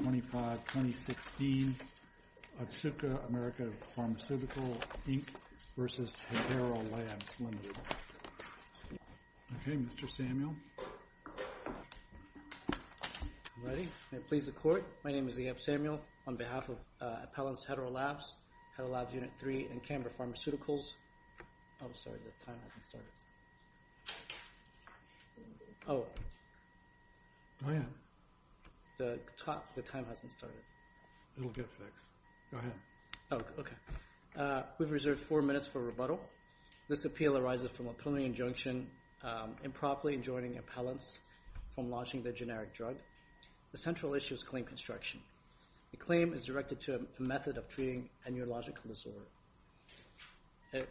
Okay, Mr. Samuel. All right. May it please the Court. My name is Leob Samuel on behalf of Appellants Hetero Labs, Hetero Labs Unit 3, and Canberra Pharmaceuticals. I'm sorry. The timer hasn't started. Oh. Oh, yeah. The timer is on. The timer hasn't started. It'll get fixed. Go ahead. Oh, okay. We've reserved four minutes for rebuttal. This appeal arises from a preliminary injunction improperly enjoining appellants from launching the generic drug. The central issue is claim construction. The claim is directed to a method of treating a neurological disorder. It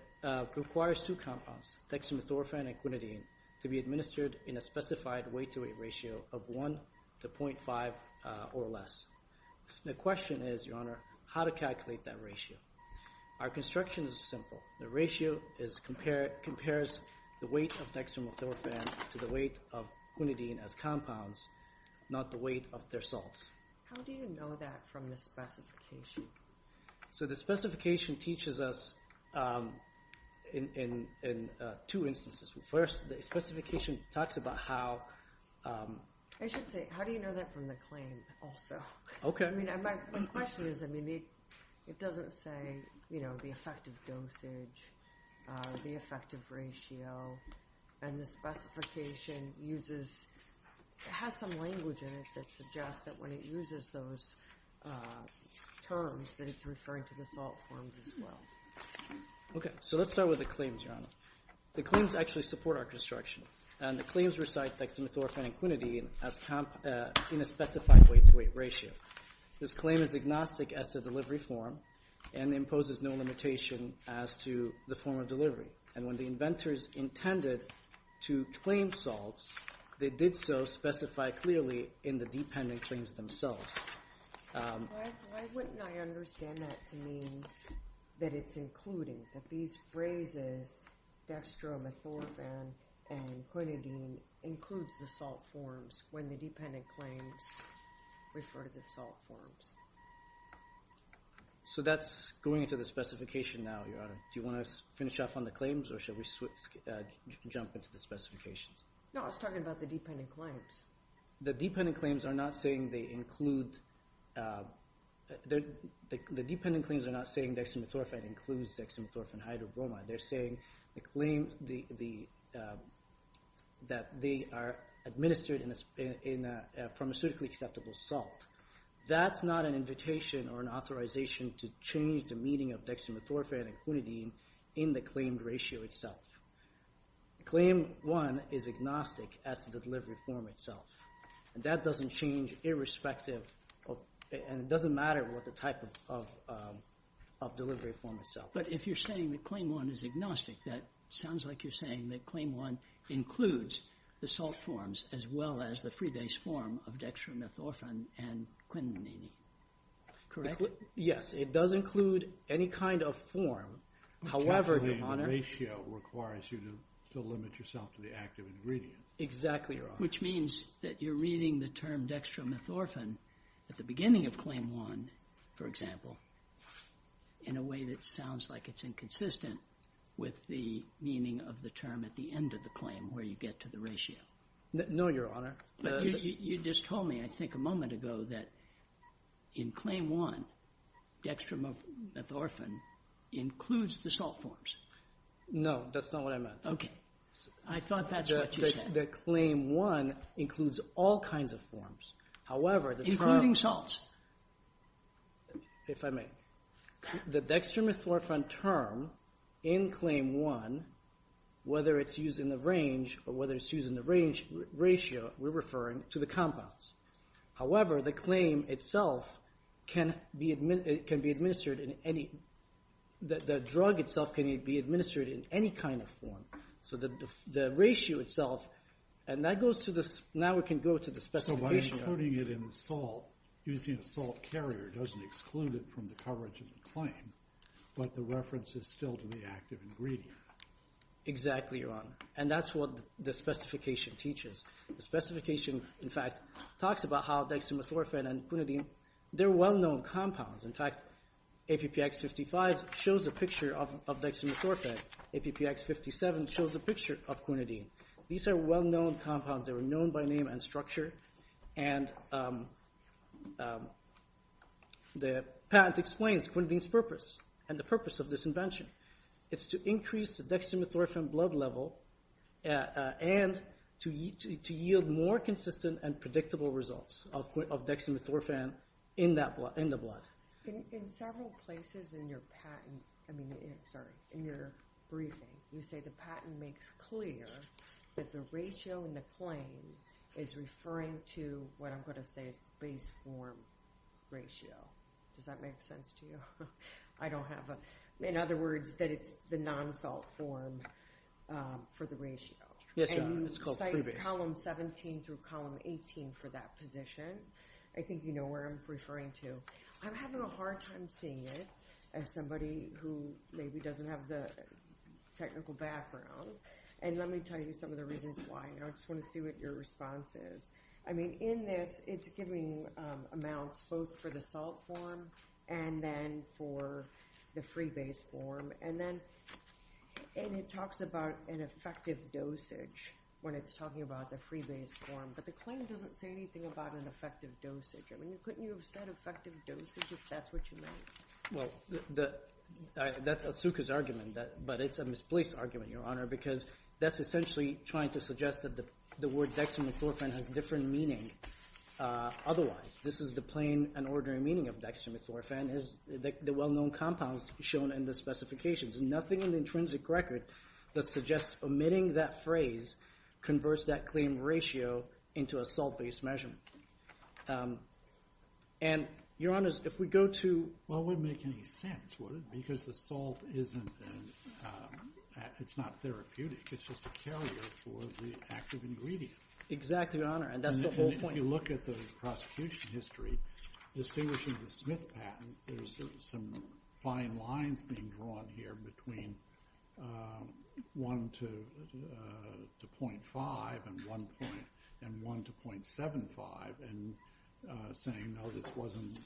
requires two compounds, dexamethorphan and quinidine, to be administered in a specified weight-to-weight ratio of 1 to 0.5 or less. The question is, Your Honor, how to calculate that ratio. Our construction is simple. The ratio compares the weight of dexamethorphan to the weight of quinidine as compounds, not the weight of their salts. How do you know that from the specification? So the specification teaches us in two instances. First, the specification talks about how... I should say, how do you know that from the claim also? Okay. I mean, my question is, I mean, it doesn't say, you know, the effective dosage, the effective ratio, and the specification uses, it has some language in it that suggests that when it uses those terms, that it's referring to the salt forms as well. Okay. So let's start with the claims, Your Honor. The claims actually support our construction, and the claims recite dexamethorphan and quinidine as compounds in a specified weight-to-weight ratio. This claim is agnostic as to the delivery form and imposes no limitation as to the form of delivery. And when the inventors intended to claim salts, they did so specified clearly in the dependent claims themselves. Why wouldn't I understand that to mean that it's including, that these phrases, dexamethorphan and quinidine, includes the salt forms when the dependent claims refer to the salt forms? So that's going into the specification now, Your Honor. Do you want to finish off on the claims, or should we jump into the specifications? No, I was talking about the dependent claims. The dependent claims are not saying dexamethorphan includes dexamethorphan hydrobromide. They're saying that they are administered in a pharmaceutically acceptable salt. That's not an invitation or an authorization to change the meaning of dexamethorphan and quinidine in the claimed ratio itself. Claim one is agnostic as to the delivery form itself. That doesn't change irrespective of, and it doesn't matter what the type of delivery form itself is. But if you're saying that claim one is agnostic, that sounds like you're saying that claim one includes the salt forms as well as the free base form of dexamethorphan and quinidine. Correct? Yes. It does include any kind of form. However, Your Honor. The claimed ratio requires you to limit yourself to the active ingredient. Exactly, Your Honor. Which means that you're reading the term dexamethorphan at the beginning of claim one, for example, in a way that sounds like it's inconsistent with the meaning of the term at the end of the claim where you get to the ratio. No, Your Honor. But you just told me, I think, a moment ago that in claim one, dexamethorphan includes the salt forms. No, that's not what I meant. I thought that's what you said. That claim one includes all kinds of forms. However, the term... Including salts. If I may. The dexamethorphan term in claim one, whether it's used in the range or whether it's used in the ratio, we're referring to the compounds. However, the claim itself can be administered in any... The drug itself can be administered in any kind of form. So the ratio itself... And that goes to the... Now we can go to the specification. So by including it in the salt, using a salt carrier doesn't exclude it from the coverage of the claim, but the reference is still to the active ingredient. Exactly, Your Honor. And that's what the specification teaches. The specification, in fact, talks about how dexamethorphan and quinidine, they're well-known compounds. In fact, APPX55 shows the picture of dexamethorphan. APPX57 shows the picture of quinidine. These are well-known compounds. They were known by name and structure. And the patent explains quinidine's purpose and the purpose of this invention. It's to increase the dexamethorphan blood level and to yield more consistent and predictable results of dexamethorphan in the blood. In several places in your patent, I mean, sorry, in your briefing, you say the patent makes clear that the ratio in the claim is referring to what I'm going to say is base form ratio. Does that make sense to you? I don't have a... In other words, that it's the non-salt form for the ratio. Yes, Your Honor. It's called free base. And you cite column 17 through column 18 for that position. I think you know where I'm referring to. I'm having a hard time seeing it as somebody who maybe doesn't have the technical background. And let me tell you some of the reasons why. I just want to see what your response is. I mean, in this, it's giving amounts both for the salt form and then for the free base form. And then it talks about an effective dosage when it's talking about the free base form. But the claim doesn't say anything about an effective dosage. I mean, couldn't you have said effective dosage if that's what you meant? Well, that's Asuka's argument, but it's a misplaced argument, Your Honor, because that's essentially trying to suggest that the word dextromethorphan has different meaning otherwise. This is the plain and ordinary meaning of dextromethorphan is the well-known compounds shown in the specifications. Nothing in the intrinsic record that suggests omitting that phrase converts that claim ratio into a salt-based measurement. And, Your Honor, if we go to... Well, it wouldn't make any sense, would it? Because the salt isn't... It's not therapeutic. It's just a carrier for the active ingredient. Exactly, Your Honor. And that's the whole point. And if you look at the prosecution history, distinguishing the Smith patent, there's some fine lines being drawn here between 1 to 0.5 and 1 to 0.75 and saying, no, this wasn't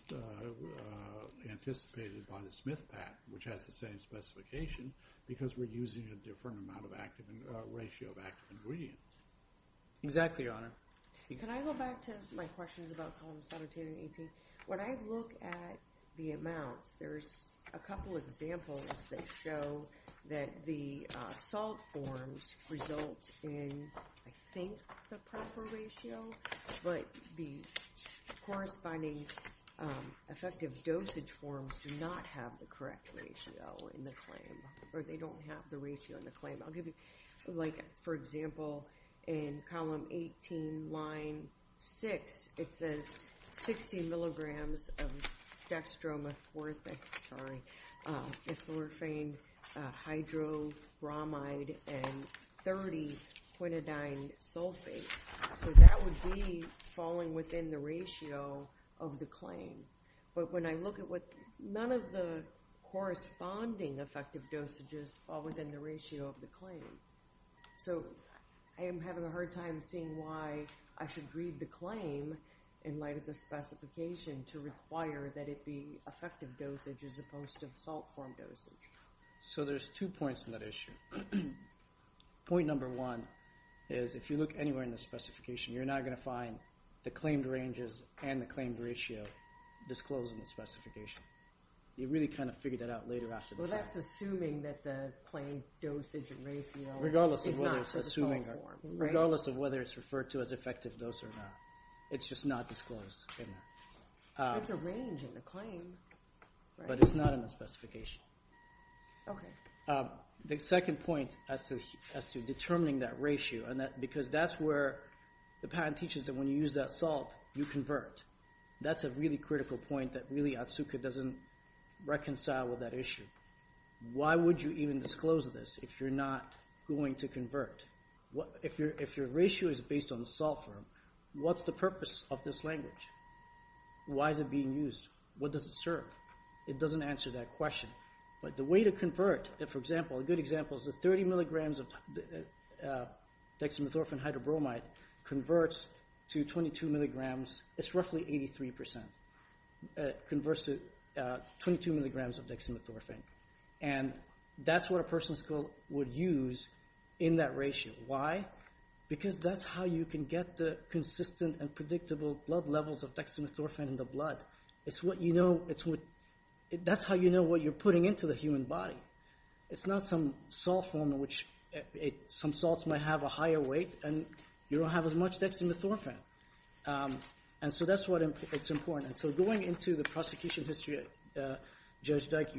anticipated by the Smith patent, which has the same specification, because we're using a different amount of ratio of active ingredients. Exactly, Your Honor. Can I go back to my question about column 17 and 18? When I look at the amounts, there's a couple examples that show that the salt forms result in, I think, the proper ratio, but the corresponding effective dosage forms do not have the correct ratio in the claim, or they don't have the ratio in the claim. I'll give you... Like, for example, in column 18, line 6, it says 60 milligrams of dextromethorphaned... Dextromethorphaned hydrobromide and 30 quinidine sulfate. So that would be falling within the ratio of the claim. But when I look at what... None of the corresponding effective dosages fall within the ratio of the claim. So I am having a hard time seeing why I should read the claim in light of the specification to require that it be effective dosage as opposed to salt form dosage. So there's two points to that issue. Point number one is, if you look anywhere in the specification, you're not going to find the claimed ranges and the claimed ratio disclosed in the specification. You really kind of figure that out later after the fact. Well, that's assuming that the claimed dosage and ratio is not for the salt form, right? Regardless of whether it's referred to as effective dose or not. It's just not disclosed in there. There's a range in the claim, right? But it's not in the specification. Okay. The second point as to determining that ratio, because that's where the patent teaches that when you use that salt, you convert. That's a really critical point that really Otsuka doesn't reconcile with that issue. Why would you even disclose this if you're not going to convert? If your ratio is based on salt form, what's the purpose of this language? Why is it being used? What does it serve? It doesn't answer that question. But the way to convert, for example, a good example is the 30 milligrams of dexamethorphine hydrobromide converts to 22 milligrams. It's roughly 83%. It converts to 22 milligrams of dexamethorphine. That's what a person would use in that ratio. Why? Because that's how you can get the consistent and predictable blood levels of dexamethorphine in the blood. That's how you know what you're putting into the human body. It's not some salt form in which some salts might have a higher weight and you don't have as much dexamethorphine. That's why it's important. Going into the prosecution history, Judge Dyke,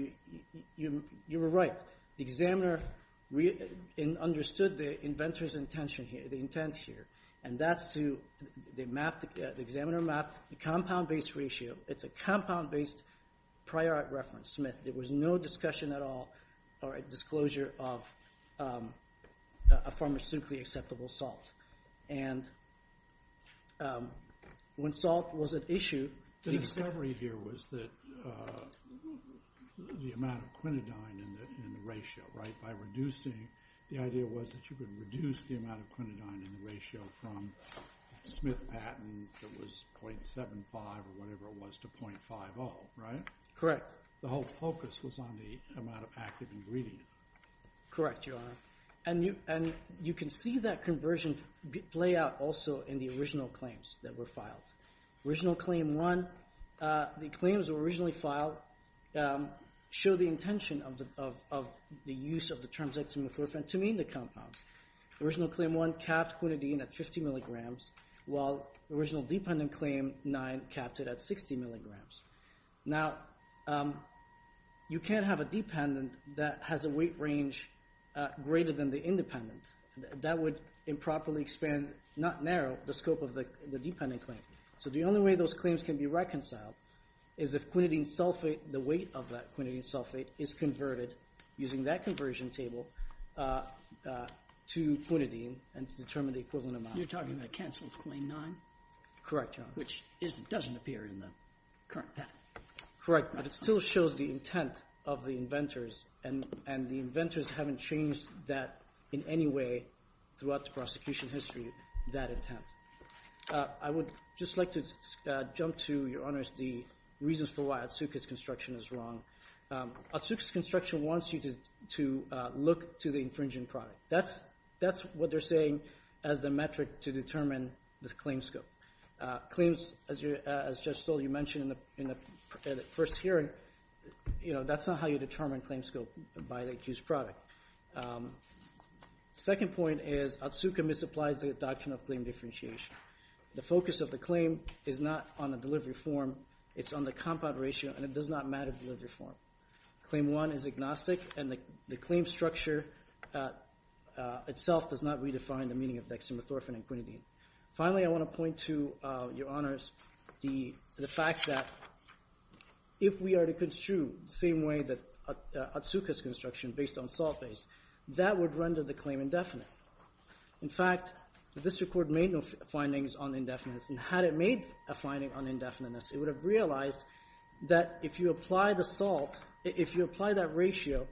you were right. The examiner understood the inventor's intent here. The examiner mapped the compound-based ratio. It's a compound-based prior reference method. There was no discussion at all or disclosure of a pharmaceutically acceptable salt. When salt was at issue... The discovery here was the amount of quinidine in the ratio, right? The idea was that you could reduce the amount of quinidine in the ratio from Smith-Patton that was 0.75 or whatever it was to 0.50, right? Correct. The whole focus was on the amount of active ingredient. Correct, Your Honor. You can see that conversion play out also in the original claims that were filed. Original Claim 1, the claims that were originally filed show the intention of the use of the term dexamethorphine to mean the compounds. Original Claim 1 capped quinidine at 50 mg, while Original Dependent Claim 9 capped it at 60 mg. Now, you can't have a dependent that has a weight range greater than the independent. That would improperly expand, not narrow, the scope of the dependent claim. So the only way those claims can be reconciled is if quinidine sulfate, the weight of that quinidine sulfate, is converted using that conversion table to quinidine and determine the equivalent amount. You're talking about cancelled Claim 9? Correct, Your Honor. Which doesn't appear in the current patent. Correct, but it still shows the intent of the inventors and the inventors haven't changed that in any way throughout the prosecution history, that intent. I would just like to jump to, Your Honors, the reasons for why Otsuka's construction is wrong. Otsuka's construction wants you to look to the infringing product. That's what they're saying as the metric to determine this claim scope. Claims, as Judge Stoll, you mentioned in the first hearing, that's not how you determine claim scope by the accused product. Second point is Otsuka misapplies the doctrine of claim differentiation. The focus of the claim is not on the delivery form, it's on the compound ratio and it does not matter delivery form. Claim 1 is agnostic and the claim structure itself does not redefine the meaning of dexamethorphine and quinidine. Finally, I want to point to, Your Honors, the fact that if we are to construe the same way that Otsuka's construction based on salt is, that would render the claim indefinite. In fact, the district court made no findings on indefiniteness and had it made a finding on indefiniteness, it would have realized that if you apply the salt, if you apply that ratio,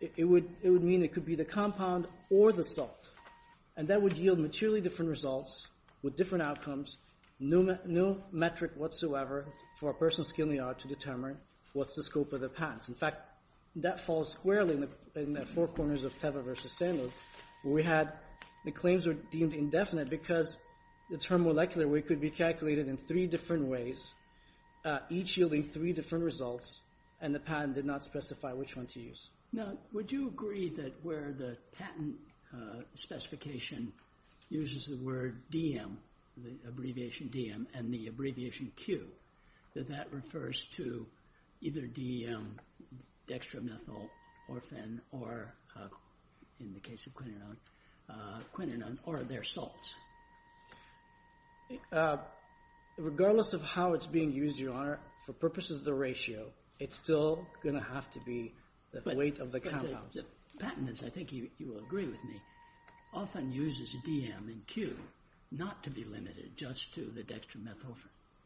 it would mean it could be the compound or the salt. And that would yield materially different results with different outcomes, no metric whatsoever for a person's skill in the art to determine what's the scope of the patents. In fact, that falls squarely in the four corners of Teva v. Sandler, where we had the claims were deemed indefinite because the term molecular weight could be calculated in three different ways, each yielding three different results, and the patent did not specify which one to use. Now, would you agree that where the patent specification uses the word DM, the abbreviation DM, and the abbreviation Q, that that refers to either DM, dextromethanol, orphen, or, in the case of quinanone, quinanone or their salts? Regardless of how it's being used, Your Honor, for purposes of the ratio, it's still going to have to be the weight of the compounds. Patents, I think you will agree with me, often uses DM and Q not to be limited just to the dextromethanol.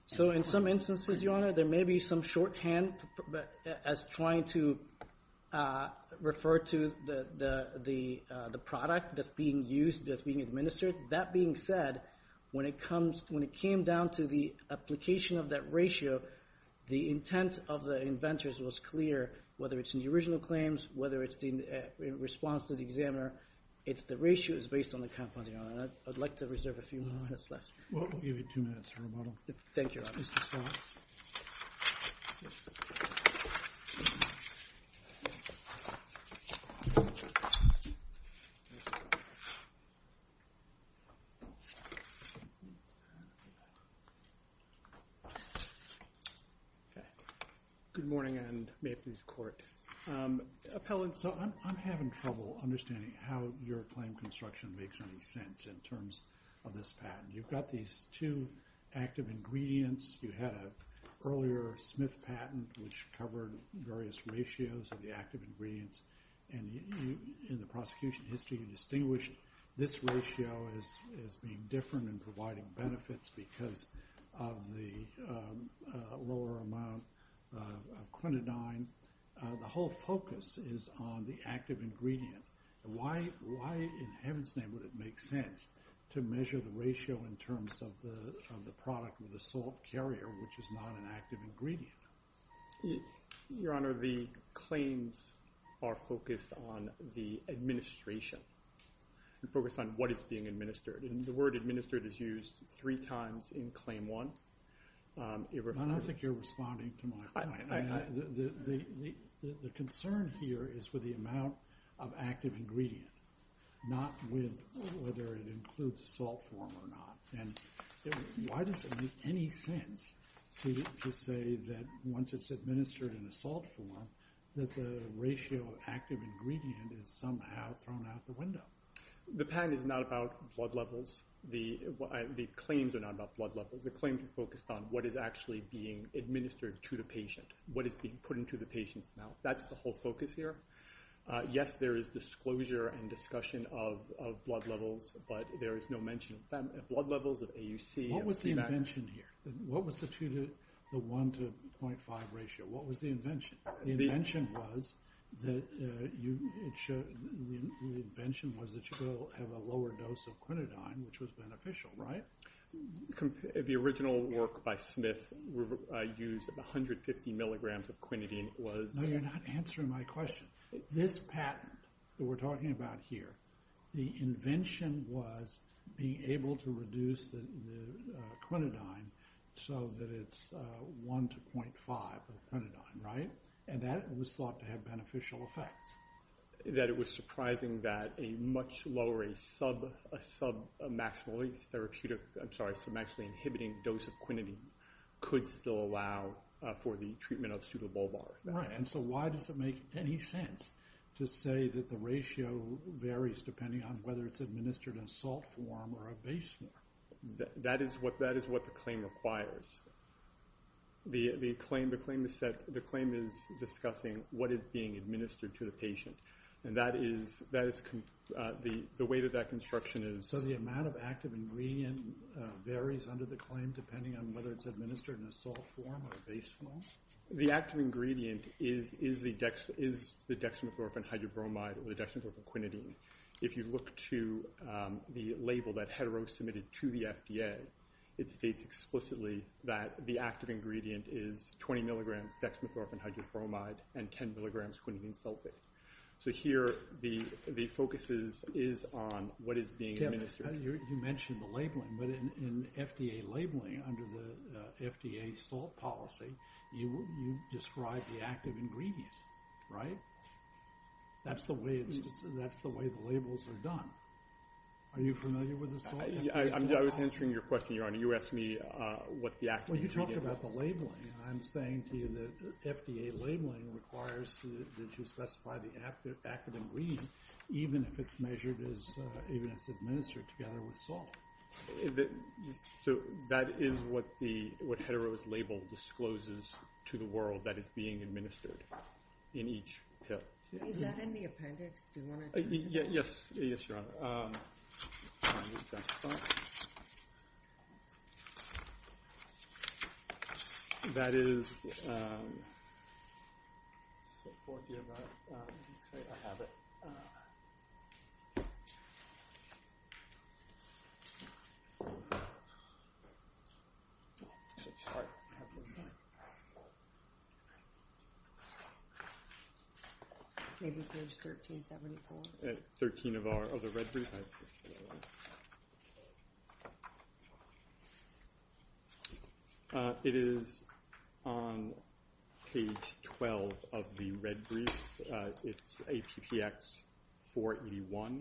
So, in some instances, Your Honor, there may be some shorthand as trying to refer to the product that's being used, that's being administered. That being said, when it came down to the application of that ratio, the intent of the inventors was clear, whether it's in the original claims, whether it's in response to the examiner, it's the ratio is based on the compounds, Your Honor. I'd like to reserve a few more minutes left. Well, we'll give you two minutes, Your Honor. Thank you, Your Honor. Okay. Good morning and may it please the Court. Appellant. So, I'm having trouble understanding how your claim construction makes any sense in terms of this patent. You've got these two active ingredients. You had an earlier Smith patent, which covered various ratios of the active ingredients. And in the prosecution history, you distinguish this ratio as being different in providing benefits because of the lower amount of clonidine. The whole focus is on the active ingredient. Why in heaven's name would it make sense to measure the ratio in terms of the product with the salt carrier, which is not an active ingredient? Your Honor, the claims are focused on the administration, the focus on what is being administered. The word administered is used three times in Claim 1. I think you're responding to my point. The concern here is with the amount of active ingredient, not with whether it includes a salt form or not. Why does it make any sense to say that once it's administered in a salt form, that the ratio of active ingredient is somehow thrown out the window? The patent is not about blood levels. The claims are not about blood levels. The claims are focused on what is actually being administered to the patient, what is being put into the patient's mouth. That's the whole focus here. Yes, there is disclosure and discussion of blood levels, but there is no mention of blood levels, of AUC. What was the invention here? What was the 1 to 0.5 ratio? What was the invention? The invention was that you will have a lower dose of quinidine, which was beneficial, right? The original work by Smith used 150 milligrams of quinidine. No, you're not answering my question. This patent that we're talking about here, the invention was being able to reduce the quinidine so that it's 1 to 0.5 of quinidine, right? And that was thought to have beneficial effects. That it was surprising that a much lower, a submaximally inhibiting dose of quinidine could still allow for the treatment of pseudobulbar. Right, and so why does it make any sense to say that the ratio varies depending on whether it's administered in salt form or a base form? That is what the claim requires. The claim is discussing what is being administered to the patient. And that is... The way that that construction is... So the amount of active ingredient varies under the claim depending on whether it's administered in a salt form or a base form? The active ingredient is the dexamethorphan hydrobromide or the dexamethorphan quinidine. If you look to the label that Hetero submitted to the FDA, it states explicitly that the active ingredient is 20 milligrams dexamethorphan hydrobromide and 10 milligrams quinidine sulfate. So here the focus is on what is being administered. You mentioned the labeling. But in FDA labeling under the FDA salt policy, you describe the active ingredient, right? That's the way the labels are done. Are you familiar with the salt? I was answering your question, Your Honor. You asked me what the active ingredient is. Well, you talked about the labeling. I'm saying to you that FDA labeling requires that you specify the active ingredient even if it's administered together with salt. So that is what Hetero's label discloses to the world that is being administered in each pill. Is that in the appendix? Yes, Your Honor. That is... Maybe page 1374. 13 of our other red brief. It is on page 12 of the red brief. It's ATPX481.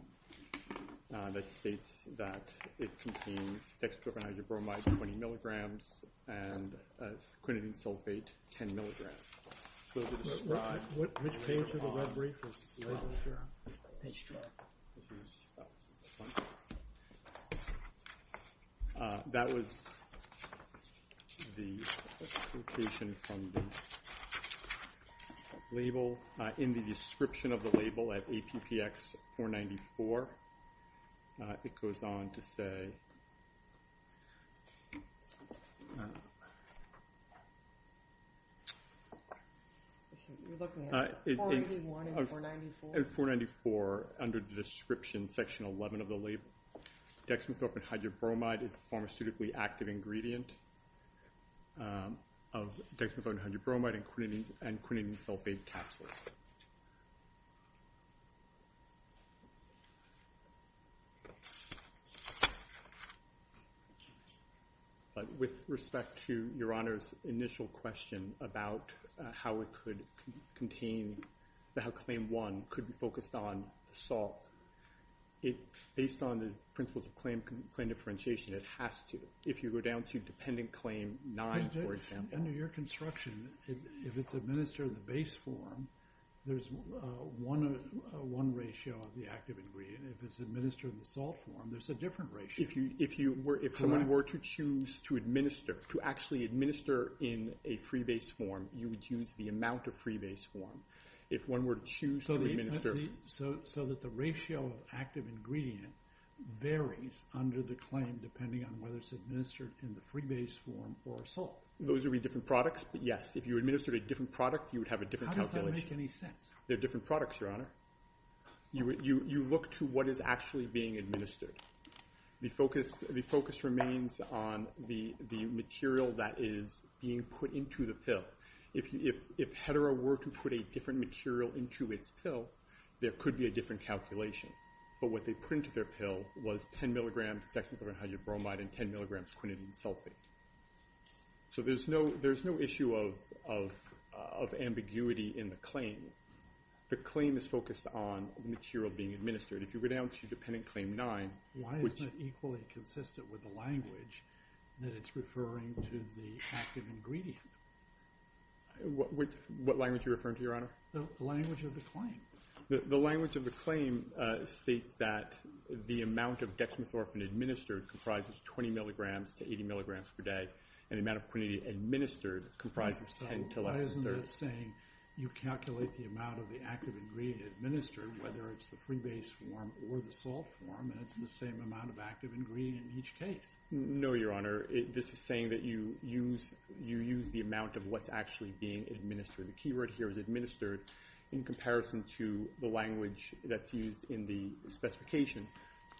That states that it contains dexamethorphan hydrobromide 20 milligrams and quinidine sulfate 10 milligrams. Which page of the red brief is the label, Your Honor? Page 12. That was the location from the label. In the description of the label at ATPX494, it goes on to say... You're looking at 481 and 494? In 494, under the description, section 11 of the label, dexamethorphan hydrobromide is a pharmaceutically active ingredient of dexamethorphan hydrobromide and quinidine sulfate capsules. With respect to Your Honor's initial question about how it could contain... How Claim 1 could be focused on salt, based on the principles of claim differentiation, it has to... If you go down to Dependent Claim 9, for example... Under your construction, if it's administered in the base form, there's one ratio of the active ingredient. If it's administered in the salt form, there's a different ratio. If someone were to choose to administer, to actually administer in a free base form, you would choose the amount of free base form. If one were to choose to administer... So that the ratio of active ingredient varies under the claim, depending on whether it's administered in the free base form or salt. Those would be different products, but yes. If you administered a different product, you would have a different calculation. How does that make any sense? They're different products, Your Honor. You look to what is actually being administered. The focus remains on the material that is being put into the pill. If Hetero were to put a different material into its pill, there could be a different calculation. But what they put into their pill was 10 mg dexamethorphan hydrobromide and 10 mg quinidine sulfate. So there's no issue of ambiguity in the claim. The claim is focused on the material being administered. If you go down to dependent claim 9... Why isn't it equally consistent with the language that it's referring to the active ingredient? What language are you referring to, Your Honor? The language of the claim. The language of the claim states that the amount of dexamethorphan administered comprises 20 mg to 80 mg per day and the amount of quinidine administered comprises 10 mg to less than 30 mg. Why isn't it saying you calculate the amount of the active ingredient administered whether it's the pre-based form or the salt form and it's the same amount of active ingredient in each case? No, Your Honor. This is saying that you use the amount of what's actually being administered. The keyword here is administered in comparison to the language that's used in the specification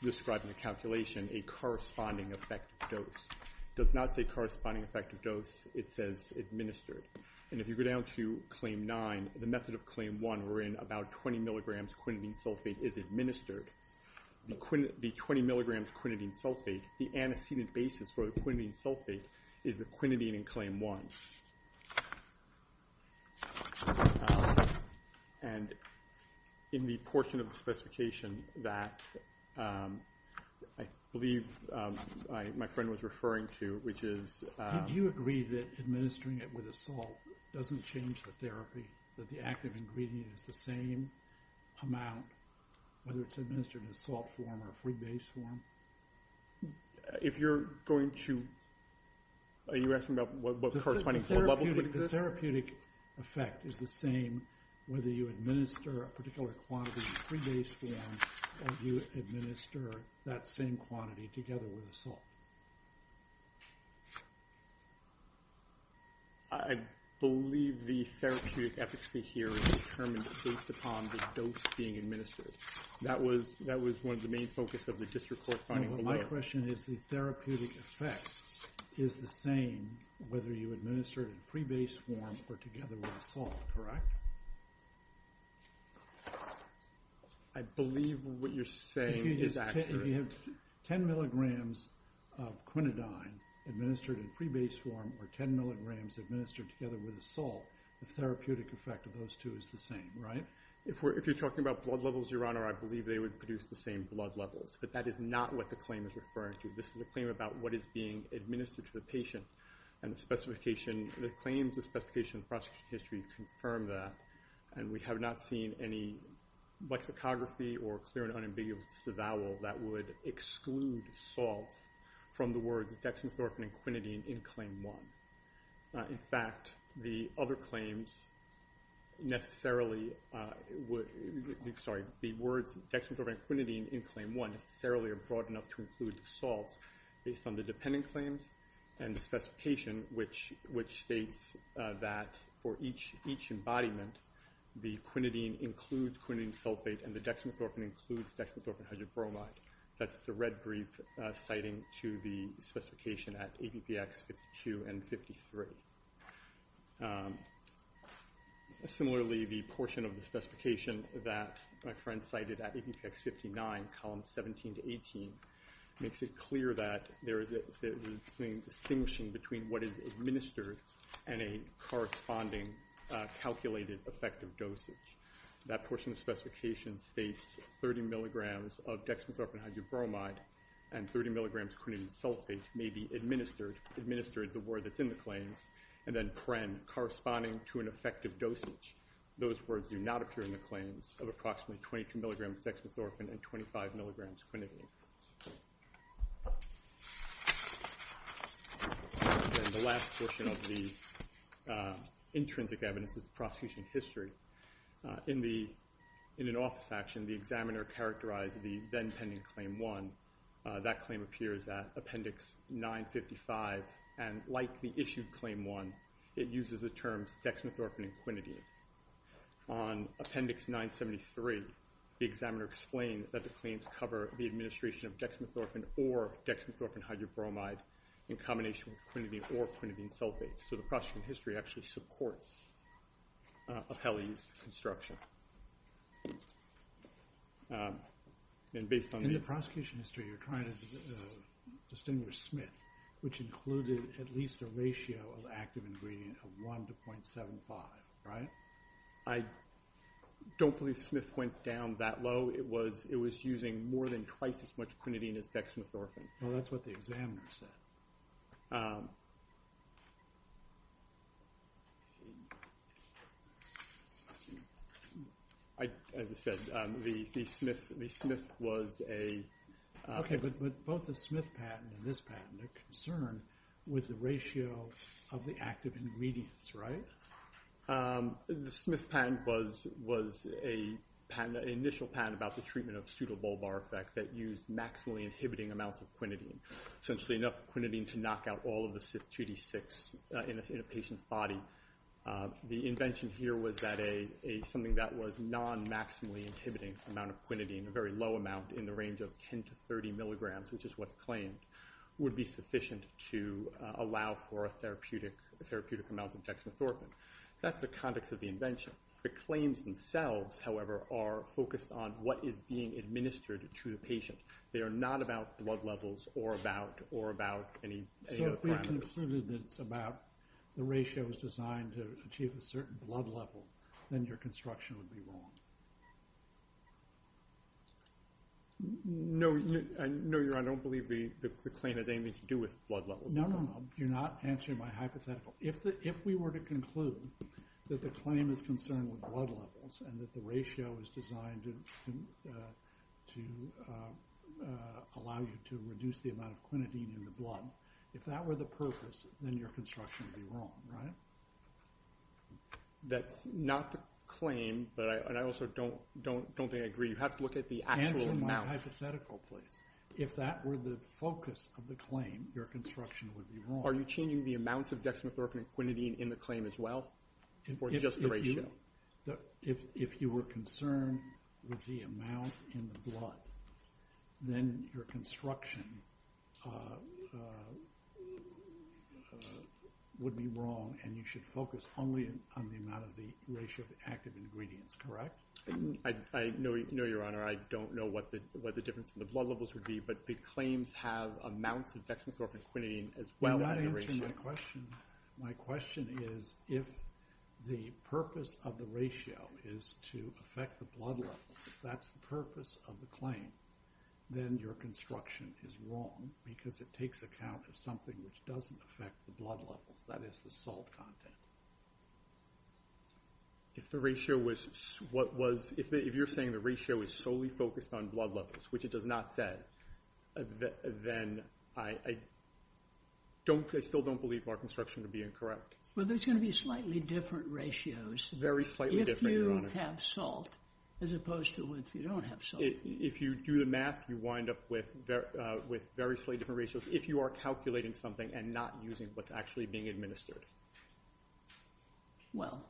describing the calculation, a corresponding effective dose. It does not say corresponding effective dose. It says administered. And if you go down to claim 9, the method of claim 1 wherein about 20 mg quinidine sulfate is administered, the 20 mg quinidine sulfate, the antecedent basis for the quinidine sulfate is the quinidine in claim 1. And in the portion of the specification that I believe my friend was referring to, which is... Do you agree that administering it with a salt doesn't change the therapy, that the active ingredient is the same amount whether it's administered in the salt form or pre-based form? If you're going to... Are you asking about what the corresponding level is? The therapeutic effect is the same whether you administer a particular quantity in the pre-based form or you administer that same quantity together with the salt. I believe the therapeutic efficacy here is determined based upon the dose being administered. That was one of the main focus of the district court finding. My question is the therapeutic effect is the same whether you administer it in pre-based form or together with the salt, correct? I believe what you're saying is accurate. If you have 10 mg of quinidine administered in pre-based form or 10 mg administered together with the salt, the therapeutic effect of those two is the same, right? If you're talking about blood levels, Your Honor, I believe they would produce the same blood levels. But that is not what the claim is referring to. This is a claim about what is being administered to the patient and the specification... The claims, the specification, the prosecution history confirm that. And we have not seen any lexicography or clear and unambiguous avowal that would exclude salts from the words dexamethorphine and quinidine in Claim 1. In fact, the other claims necessarily would... Sorry, the words dexamethorphine and quinidine in Claim 1 necessarily are broad enough to include salts based on the dependent claims and the specification which states that for each embodiment, the quinidine includes quinidine sulfate and the dexamethorphine includes dexamethorphine hydrobromide. That's the red brief citing to the specification at APPX 52 and 53. Similarly, the portion of the specification that my friend cited at APPX 59, columns 17 to 18, makes it clear that there is a distinction between what is administered and a corresponding calculated effective dosage. That portion of the specification states 30 milligrams of dexamethorphine hydrobromide and 30 milligrams of quinidine sulfate may be administered, the word that's in the claims, and then PREN, corresponding to an effective dosage. Those words do not appear in the claims of approximately 22 milligrams dexamethorphine and 25 milligrams quinidine. And the last portion of the intrinsic evidence is the prosecution history. In an office action, the examiner characterized the then-pending Claim 1. That claim appears at Appendix 955, and like the issued Claim 1, it uses the terms dexamethorphine and quinidine. On Appendix 973, the examiner explained that the claims cover the administration of dexamethorphine or dexamethorphine hydrobromide in combination with quinidine or quinidine sulfate. So the prosecution history actually supports Apelli's construction. In the prosecution history, you're trying to distinguish Smith, which included at least a ratio of active ingredient of 1 to 0.75, right? I don't believe Smith went down that low. It was using more than twice as much quinidine as dexamethorphine. Well, that's what the examiner said. As I said, the Smith was a... Okay, but both the Smith patent and this patent, their concern was the ratio of the active ingredients, right? The Smith patent was an initial patent about the treatment of pseudobulbar effect that used maximally inhibiting amounts of quinidine. Essentially enough quinidine to knock out all of the 2D6 in a patient's body. The invention here was that something that was non-maximally inhibiting amount of quinidine, a very low amount in the range of 10 to 30 milligrams, which is what's claimed, would be sufficient to allow for a therapeutic amount of dexamethorphine. That's the context of the invention. The claims themselves, however, are focused on what is being administered to the patient. They are not about blood levels or about any other parameters. So if we concluded that it's about the ratio was designed to achieve a certain blood level, then your construction would be wrong? No, Your Honor, I don't believe the claim has anything to do with blood levels. No, no, no. You're not answering my hypothetical. If we were to conclude that the claim is concerned with blood levels and that the ratio is designed to allow you to reduce the amount of quinidine in your blood, if that were the purpose, then your construction would be wrong, right? That's not the claim, and I also don't believe you have to look at the actual amount. Answer my hypothetical, please. If that were the focus of the claim, your construction would be wrong. Are you changing the amounts of dexamethorphine and quinidine in the claim as well? Or is it just the ratio? If you were concerned with the amount in the blood, then your construction would be wrong, and you should focus only on the amount of the ratio of the active ingredients, correct? I know, Your Honor, I don't know what the difference in the blood levels would be, but the claims have amounts of dexamethorphine and quinidine as well as the ratio. You're not answering my question. My question is, if the purpose of the ratio is to affect the blood levels, if that's the purpose of the claim, then your construction is wrong because it takes account of something which doesn't affect the blood levels, that is, the salt content. If the ratio was, what was, if you're saying the ratio is solely focused on blood levels, which it does not say, then I don't, I still don't believe our construction would be incorrect. Well, there's going to be slightly different ratios. Very slightly different, Your Honor. If you have salt, as opposed to if you don't have salt. If you do the math, you wind up with very, with very slightly different ratios if you are calculating something and not using what's actually being administered. Well,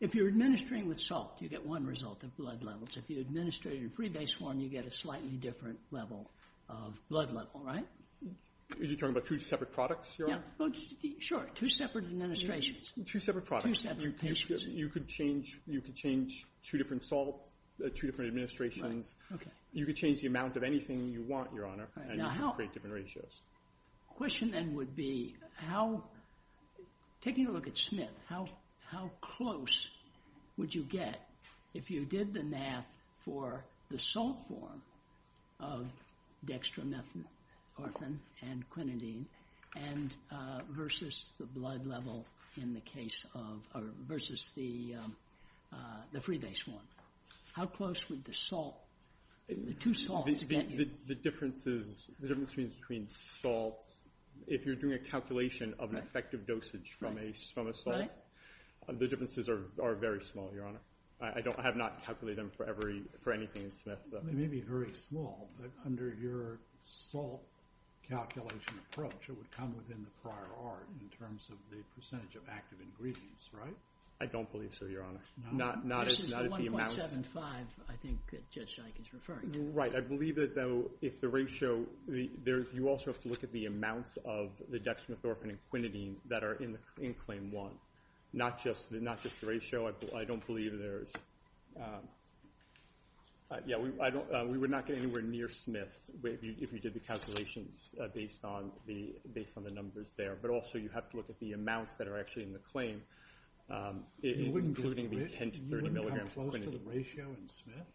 if you're administering with salt, you get one result of blood levels. If you administer it in freebase form, you get a slightly different level of blood level, right? Are you talking about two separate products, Your Honor? Yeah, sure. Two separate administrations. Two separate products. Two separate patients. You could change, you could change two different salts, two different administrations. Right, okay. You could change the amount of anything you want, Your Honor, and you could create different ratios. The question then would be, how, taking a look at Smith, how close would you get if you did the math for the salt form of dextromethorphan and quinidine and versus the blood level in the case of, versus the freebase one. How close would the salt, the two salts get you? The difference is, the difference between salts, if you're doing a calculation of an effective dosage from a salt, the differences are very small, I have not calculated them for anything in Smith. It may be very small, but under your salt calculation approach, it would come within the prior art in terms of the percentage of active ingredients, right? I don't believe so, Your Honor. No. This is the 1.75, I think, that Judge Dike is referring to. Right, I believe that, though, if the ratio, you also have to look at the amounts of the dextromethorphan and quinidine that are in Claim 1. Not just the ratio, I don't believe there's, yeah, we would not get anywhere near Smith if you did the calculations based on the numbers there, but also you have to look at the amounts that are actually in the claim, including the 10 to 30 milligrams of quinidine. to the ratio in Smith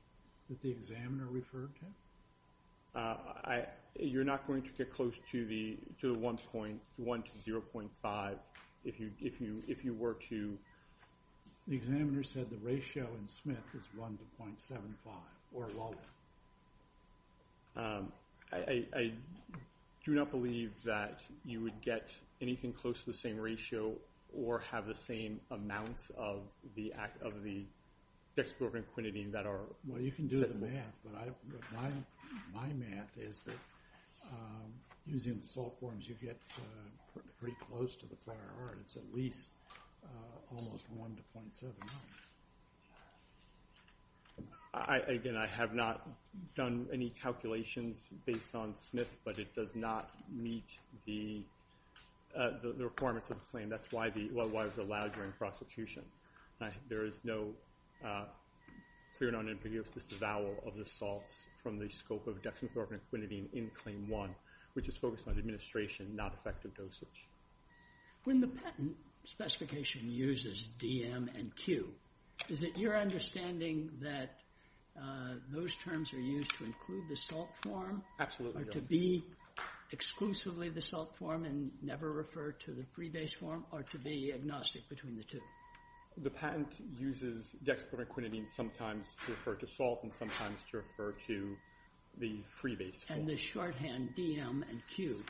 that the examiner referred to? You're not going to get close to the 1 to 0.5 if you were to... The examiner said the ratio in Smith is 1 to 0.75 or lower. I do not believe that you would get anything close to the same ratio or have the same amounts of the dextromethorphan and quinidine that are... Well, you can do the math, but my math is that using the salt forms you get pretty close to the prior art. It's at least almost 1 to 0.75. Again, I have not done any calculations based on Smith, but it does not meet the requirements of the claim. That's why it was allowed during prosecution. There is no clear non-impervious disavowal of the salts from the scope of dextromethorphan and quinidine in Claim 1, which is focused on administration, not effective dosage. When the patent specification uses DM and Q, is it your understanding that those terms are used to include the salt form? Absolutely, Your Honor. Or to be exclusively the salt form and never refer to the freebase form? Or to be agnostic between the two? The patent uses dextromethorphan and quinidine sometimes to refer to salt and sometimes to refer to the freebase form. And the shorthand DM and Q,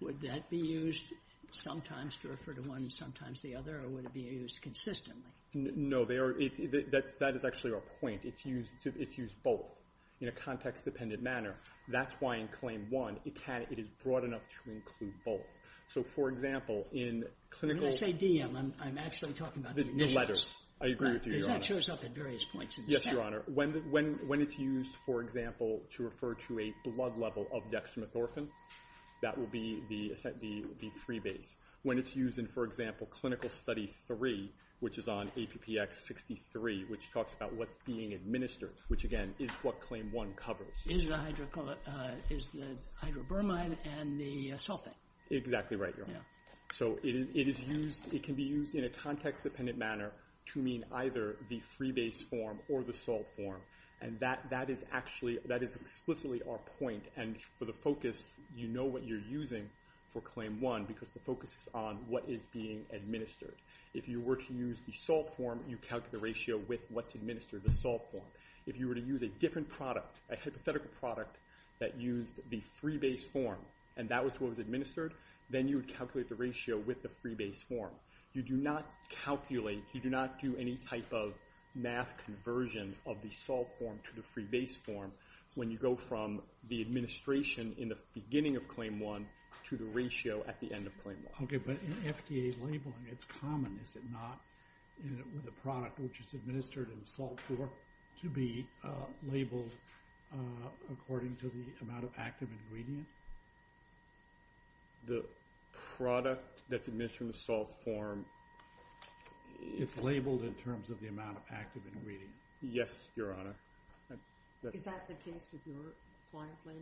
would that be used sometimes to refer to one and sometimes the other? Or would it be used consistently? No. That is actually our point. It's used both in a context-dependent manner. That's why in Claim 1, it is broad enough to include both. So, for example, in clinical... When I say DM, I'm actually talking about the initials. The letters. I agree with you, Your Honor. Because that shows up at various points. Yes, Your Honor. When it's used, for example, to refer to a blood level of dextromethorphan, that will be the freebase. When it's used in, for example, Clinical Study 3, which is on APPX 63, which talks about what's being administered, which, again, is what Claim 1 covers. Is the hydro... Is the hydrobermine and the sulfate. Exactly right, Your Honor. So it is used... It can be used in a context-dependent manner to mean either the freebase form or the sulf form. And that is actually... That is explicitly our point. And for the focus, you know what you're using for Claim 1 because the focus is on what is being administered. If you were to use the sulf form, you calculate the ratio with what's administered, the sulf form. If you were to use a different product, a hypothetical product that used the freebase form and that was what was administered, then you would calculate the ratio with the freebase form. You do not calculate... You do not do any type of math conversion of the sulf form to the freebase form when you go from the administration in the beginning of Claim 1 to the ratio at the end of Claim 1. Okay. But in FDA labeling, it's common, is it not, with a product which is administered in the sulf form to be labeled according to the amount of active ingredient? The product that's administered in the sulf form... It's labeled in the sulf form in terms of the amount of active ingredient. Yes, Your Honor. Is that the case with your client's label?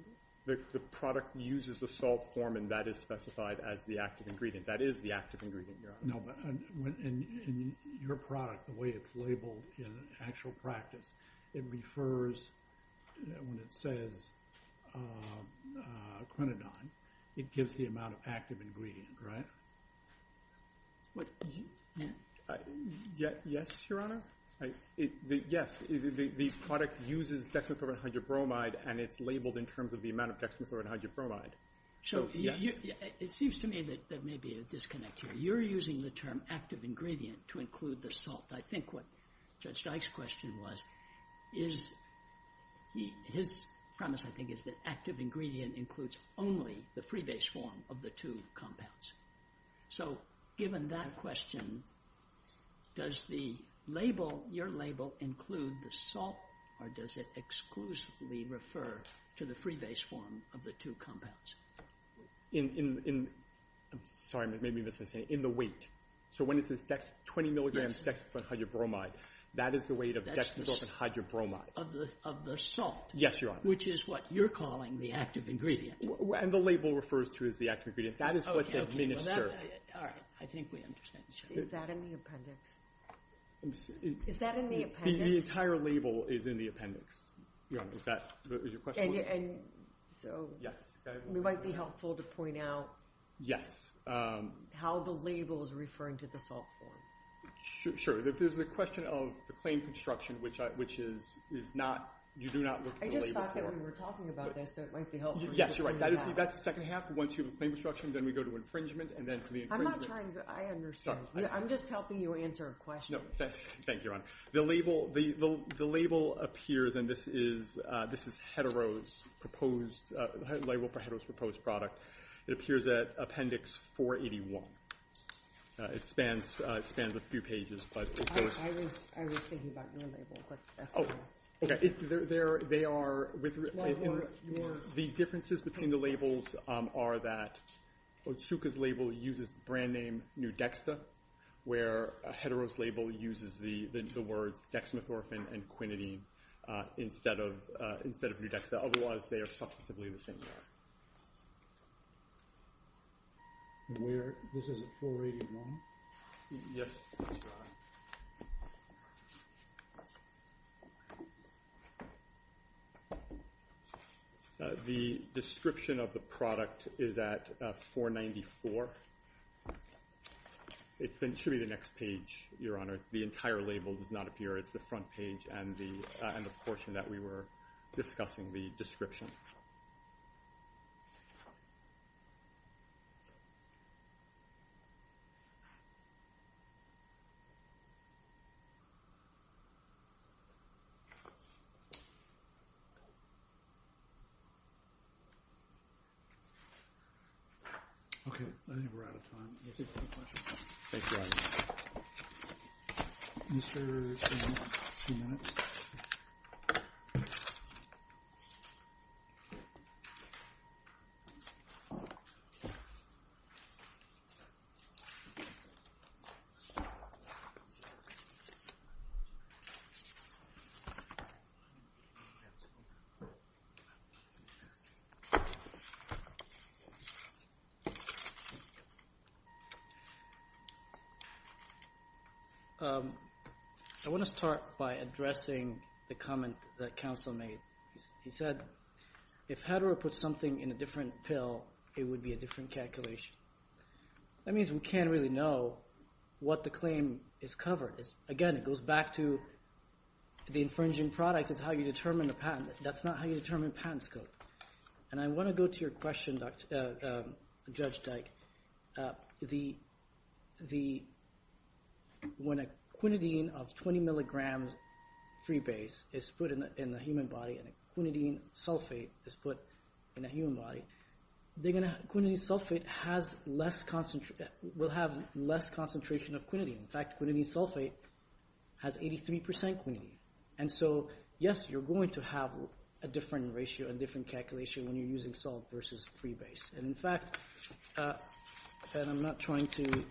The product uses the sulf form and that is specified as the active ingredient. That is the active ingredient, Your Honor. No, but... In your product, the way it's labeled in actual practice, it refers... When it says quinidine, it gives the amount of active ingredient, right? Yes, Your Honor. Yes. The product uses dexamethylamide and hydrobromide and it's labeled in terms of the amount of dexamethylamide and hydrobromide. So, it seems to me that there may be a disconnect here. You're using the term active ingredient to include the salt. I think what Judge Dyke's question was is... His premise, is that active ingredient includes only the free base form of the two compounds. So, given that question, does the label, your label, include the salt or does it exclusively refer to the free base form of the two compounds? In... I'm sorry, I may be misunderstanding. In the weight. So, when it says dex... 20 milligrams dexamethylamide and hydrobromide, that is the weight of dexamethylamide and hydrobromide. Of the salt. Yes, Your Honor. Which is what you're calling the active ingredient. And the label refers to as the active ingredient. That is what's administered. All right. I think we understand. Is that in the appendix? Is that in the appendix? The entire label is in the appendix. Your Honor, is that... Is your question... And... So... Yes. It might be helpful to point out... Yes. How the label is referring to the salt form. Sure. There's the question of the claim construction which is not... You do not look at the label form. I just thought that we were talking about this so it might be helpful. Yes, you're right. That's the second half. Once you have the claim construction then we go to infringement and then for the infringement... I'm not trying to... I understand. I'm just helping you answer a question. Thank you, Your Honor. The label... The label appears and this is Hetero's proposed... The label for Hetero's proposed product. It appears at appendix 481. It spans a few pages but... I was thinking about your label. Oh. Okay. They are... The differences between the labels are that Otsuka's label uses the brand name New Dexta where Hetero's label uses the words dexamethorphine and quinidine instead of New Dexta otherwise they are substantively the same. This is 481? Yes, Your Honor. The description of the product is at 494. It should be the next page, Your Honor. The entire label does not appear. It's the front page and the portion that we were discussing, the description. Okay. I think we're out of time. Let's get to the questions. Thank you, Your Honor. Mr. Otsuka, two minutes. Thank you. I want to start by addressing the comment that counsel made. He said, if Hetero puts something in a different pill, it would be a different calculation. That means we can't really know what the claim is covered. Again, it goes back to the infringing product is how you determine a patent. That's not how you determine patent scope. And I want to go to your question, Judge Dyke. When a quinidine of 20 mg freebase is put in the human body and a quinidine sulfate is put in a human body, the quinidine sulfate will have less concentration of quinidine. In fact, quinidine sulfate has 83% quinidine. And so, yes, you're going to have a different ratio and different calculation when you're using salt versus freebase. And in fact, and I'm not trying to...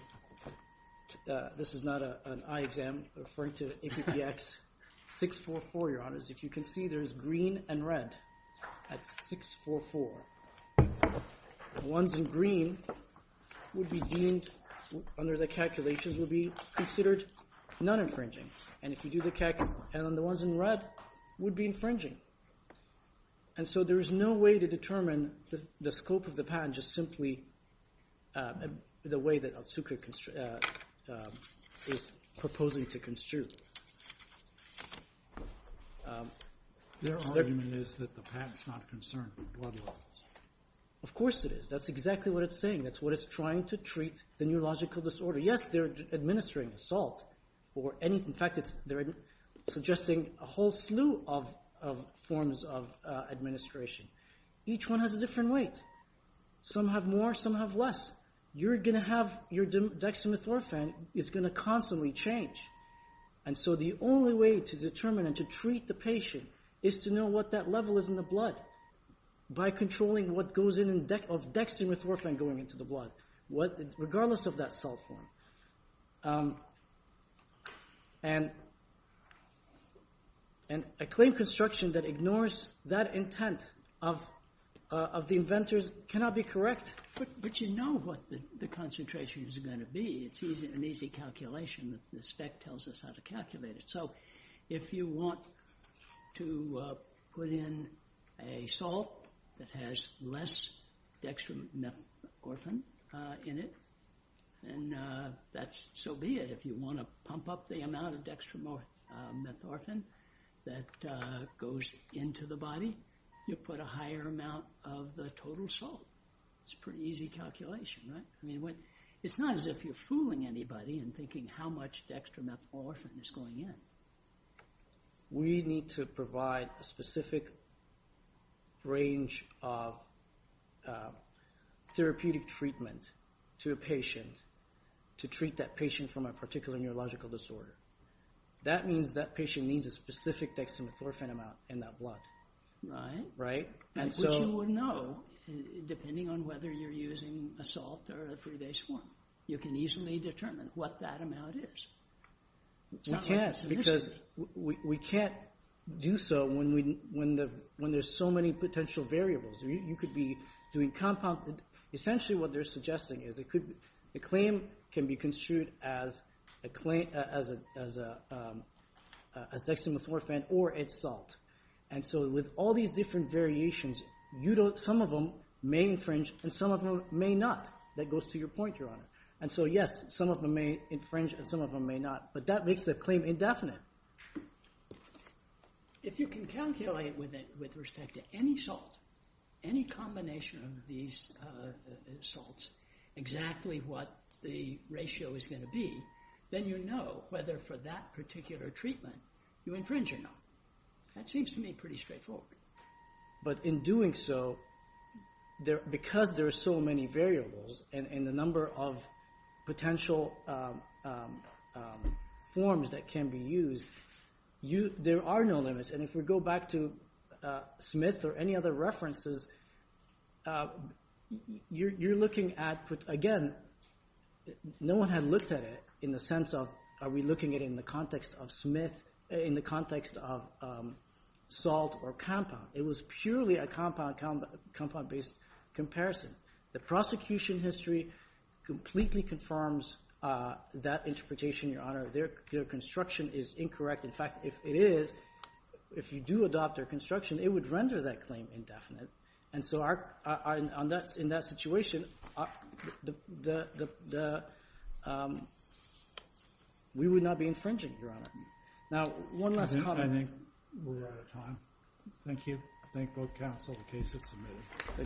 This is not an eye exam. I'm referring to APPX 644, If you can see, there's green and red at 644. The ones in green would be deemed, under the calculations, would be considered non-infringing. And if you do the... And the ones in red would be infringing. And so there is no way to determine the scope of the patent just simply the way that Otsuka is proposing to construe. Their argument is that the patent's not concerned with blood levels. Of course it is. That's exactly what it's saying. That's what it's trying to treat the neurological disorder. Yes, they're administering salt or any... they're suggesting a whole slew of forms of administration. Each one has a different weight. Some have more. Some have less. You're going to have... Your dexamethorphan is going to constantly change. And so the only way to determine and to treat the patient is to know what that level is in the blood by controlling what goes in of dexamethorphan going into the blood regardless of that salt form. And a claim construction that ignores that intent of the inventors cannot be correct. But you know what the concentration is going to be. It's an easy calculation. The spec tells us how to calculate it. So if you want to put in a salt that has less dexamethorphan in it then so be it. If you want to pump up the amount of dexamethorphan that goes into the body you put a higher amount of the total salt. It's a pretty easy calculation. It's not as if you're fooling anybody and thinking how much dexamethorphan is going in. We need to provide a specific range of therapeutic treatment to a patient to treat that patient from a particular neurological disorder. That means that patient needs a specific dexamethorphan amount in that blood. Right. Right. Which you would know depending on whether you're using a salt or a free base form. You can easily determine what that amount is. We can't because we can't do so when there's so many potential variables. You could be doing compound... Essentially, what they're suggesting is the claim can be construed as dexamethorphan or it's salt. With all these different variations, some of them may infringe and some of them may not. That goes to your point, Your Honor. Yes, some of them may infringe and some of them may not. That makes the claim indefinite. If you can calculate with respect to any salt, any combination of these salts, exactly what the ratio is going to be, then you know whether for that particular treatment you infringe or not. That seems to me pretty straightforward. But in doing so, because there are so many variables and the number of potential forms that can be used, there are no limits. If we go back to Smith or any other references, you're looking at, again, no one had looked at it in the sense of are we looking at it in the context of Smith, in the context of salt or compound. It was purely a compound-based comparison. The prosecution history completely confirms that interpretation, Their construction is incorrect. In fact, if it is, if you do adopt their construction, it would render that claim indefinite. And so, in that situation, we would not be infringing, Now, one last comment. I think we're out of time. Thank you. I thank both counsel for the case that's submitted. Thank you. All rise. Now, before we get started, I would like to remind you that this hearing is being recorded.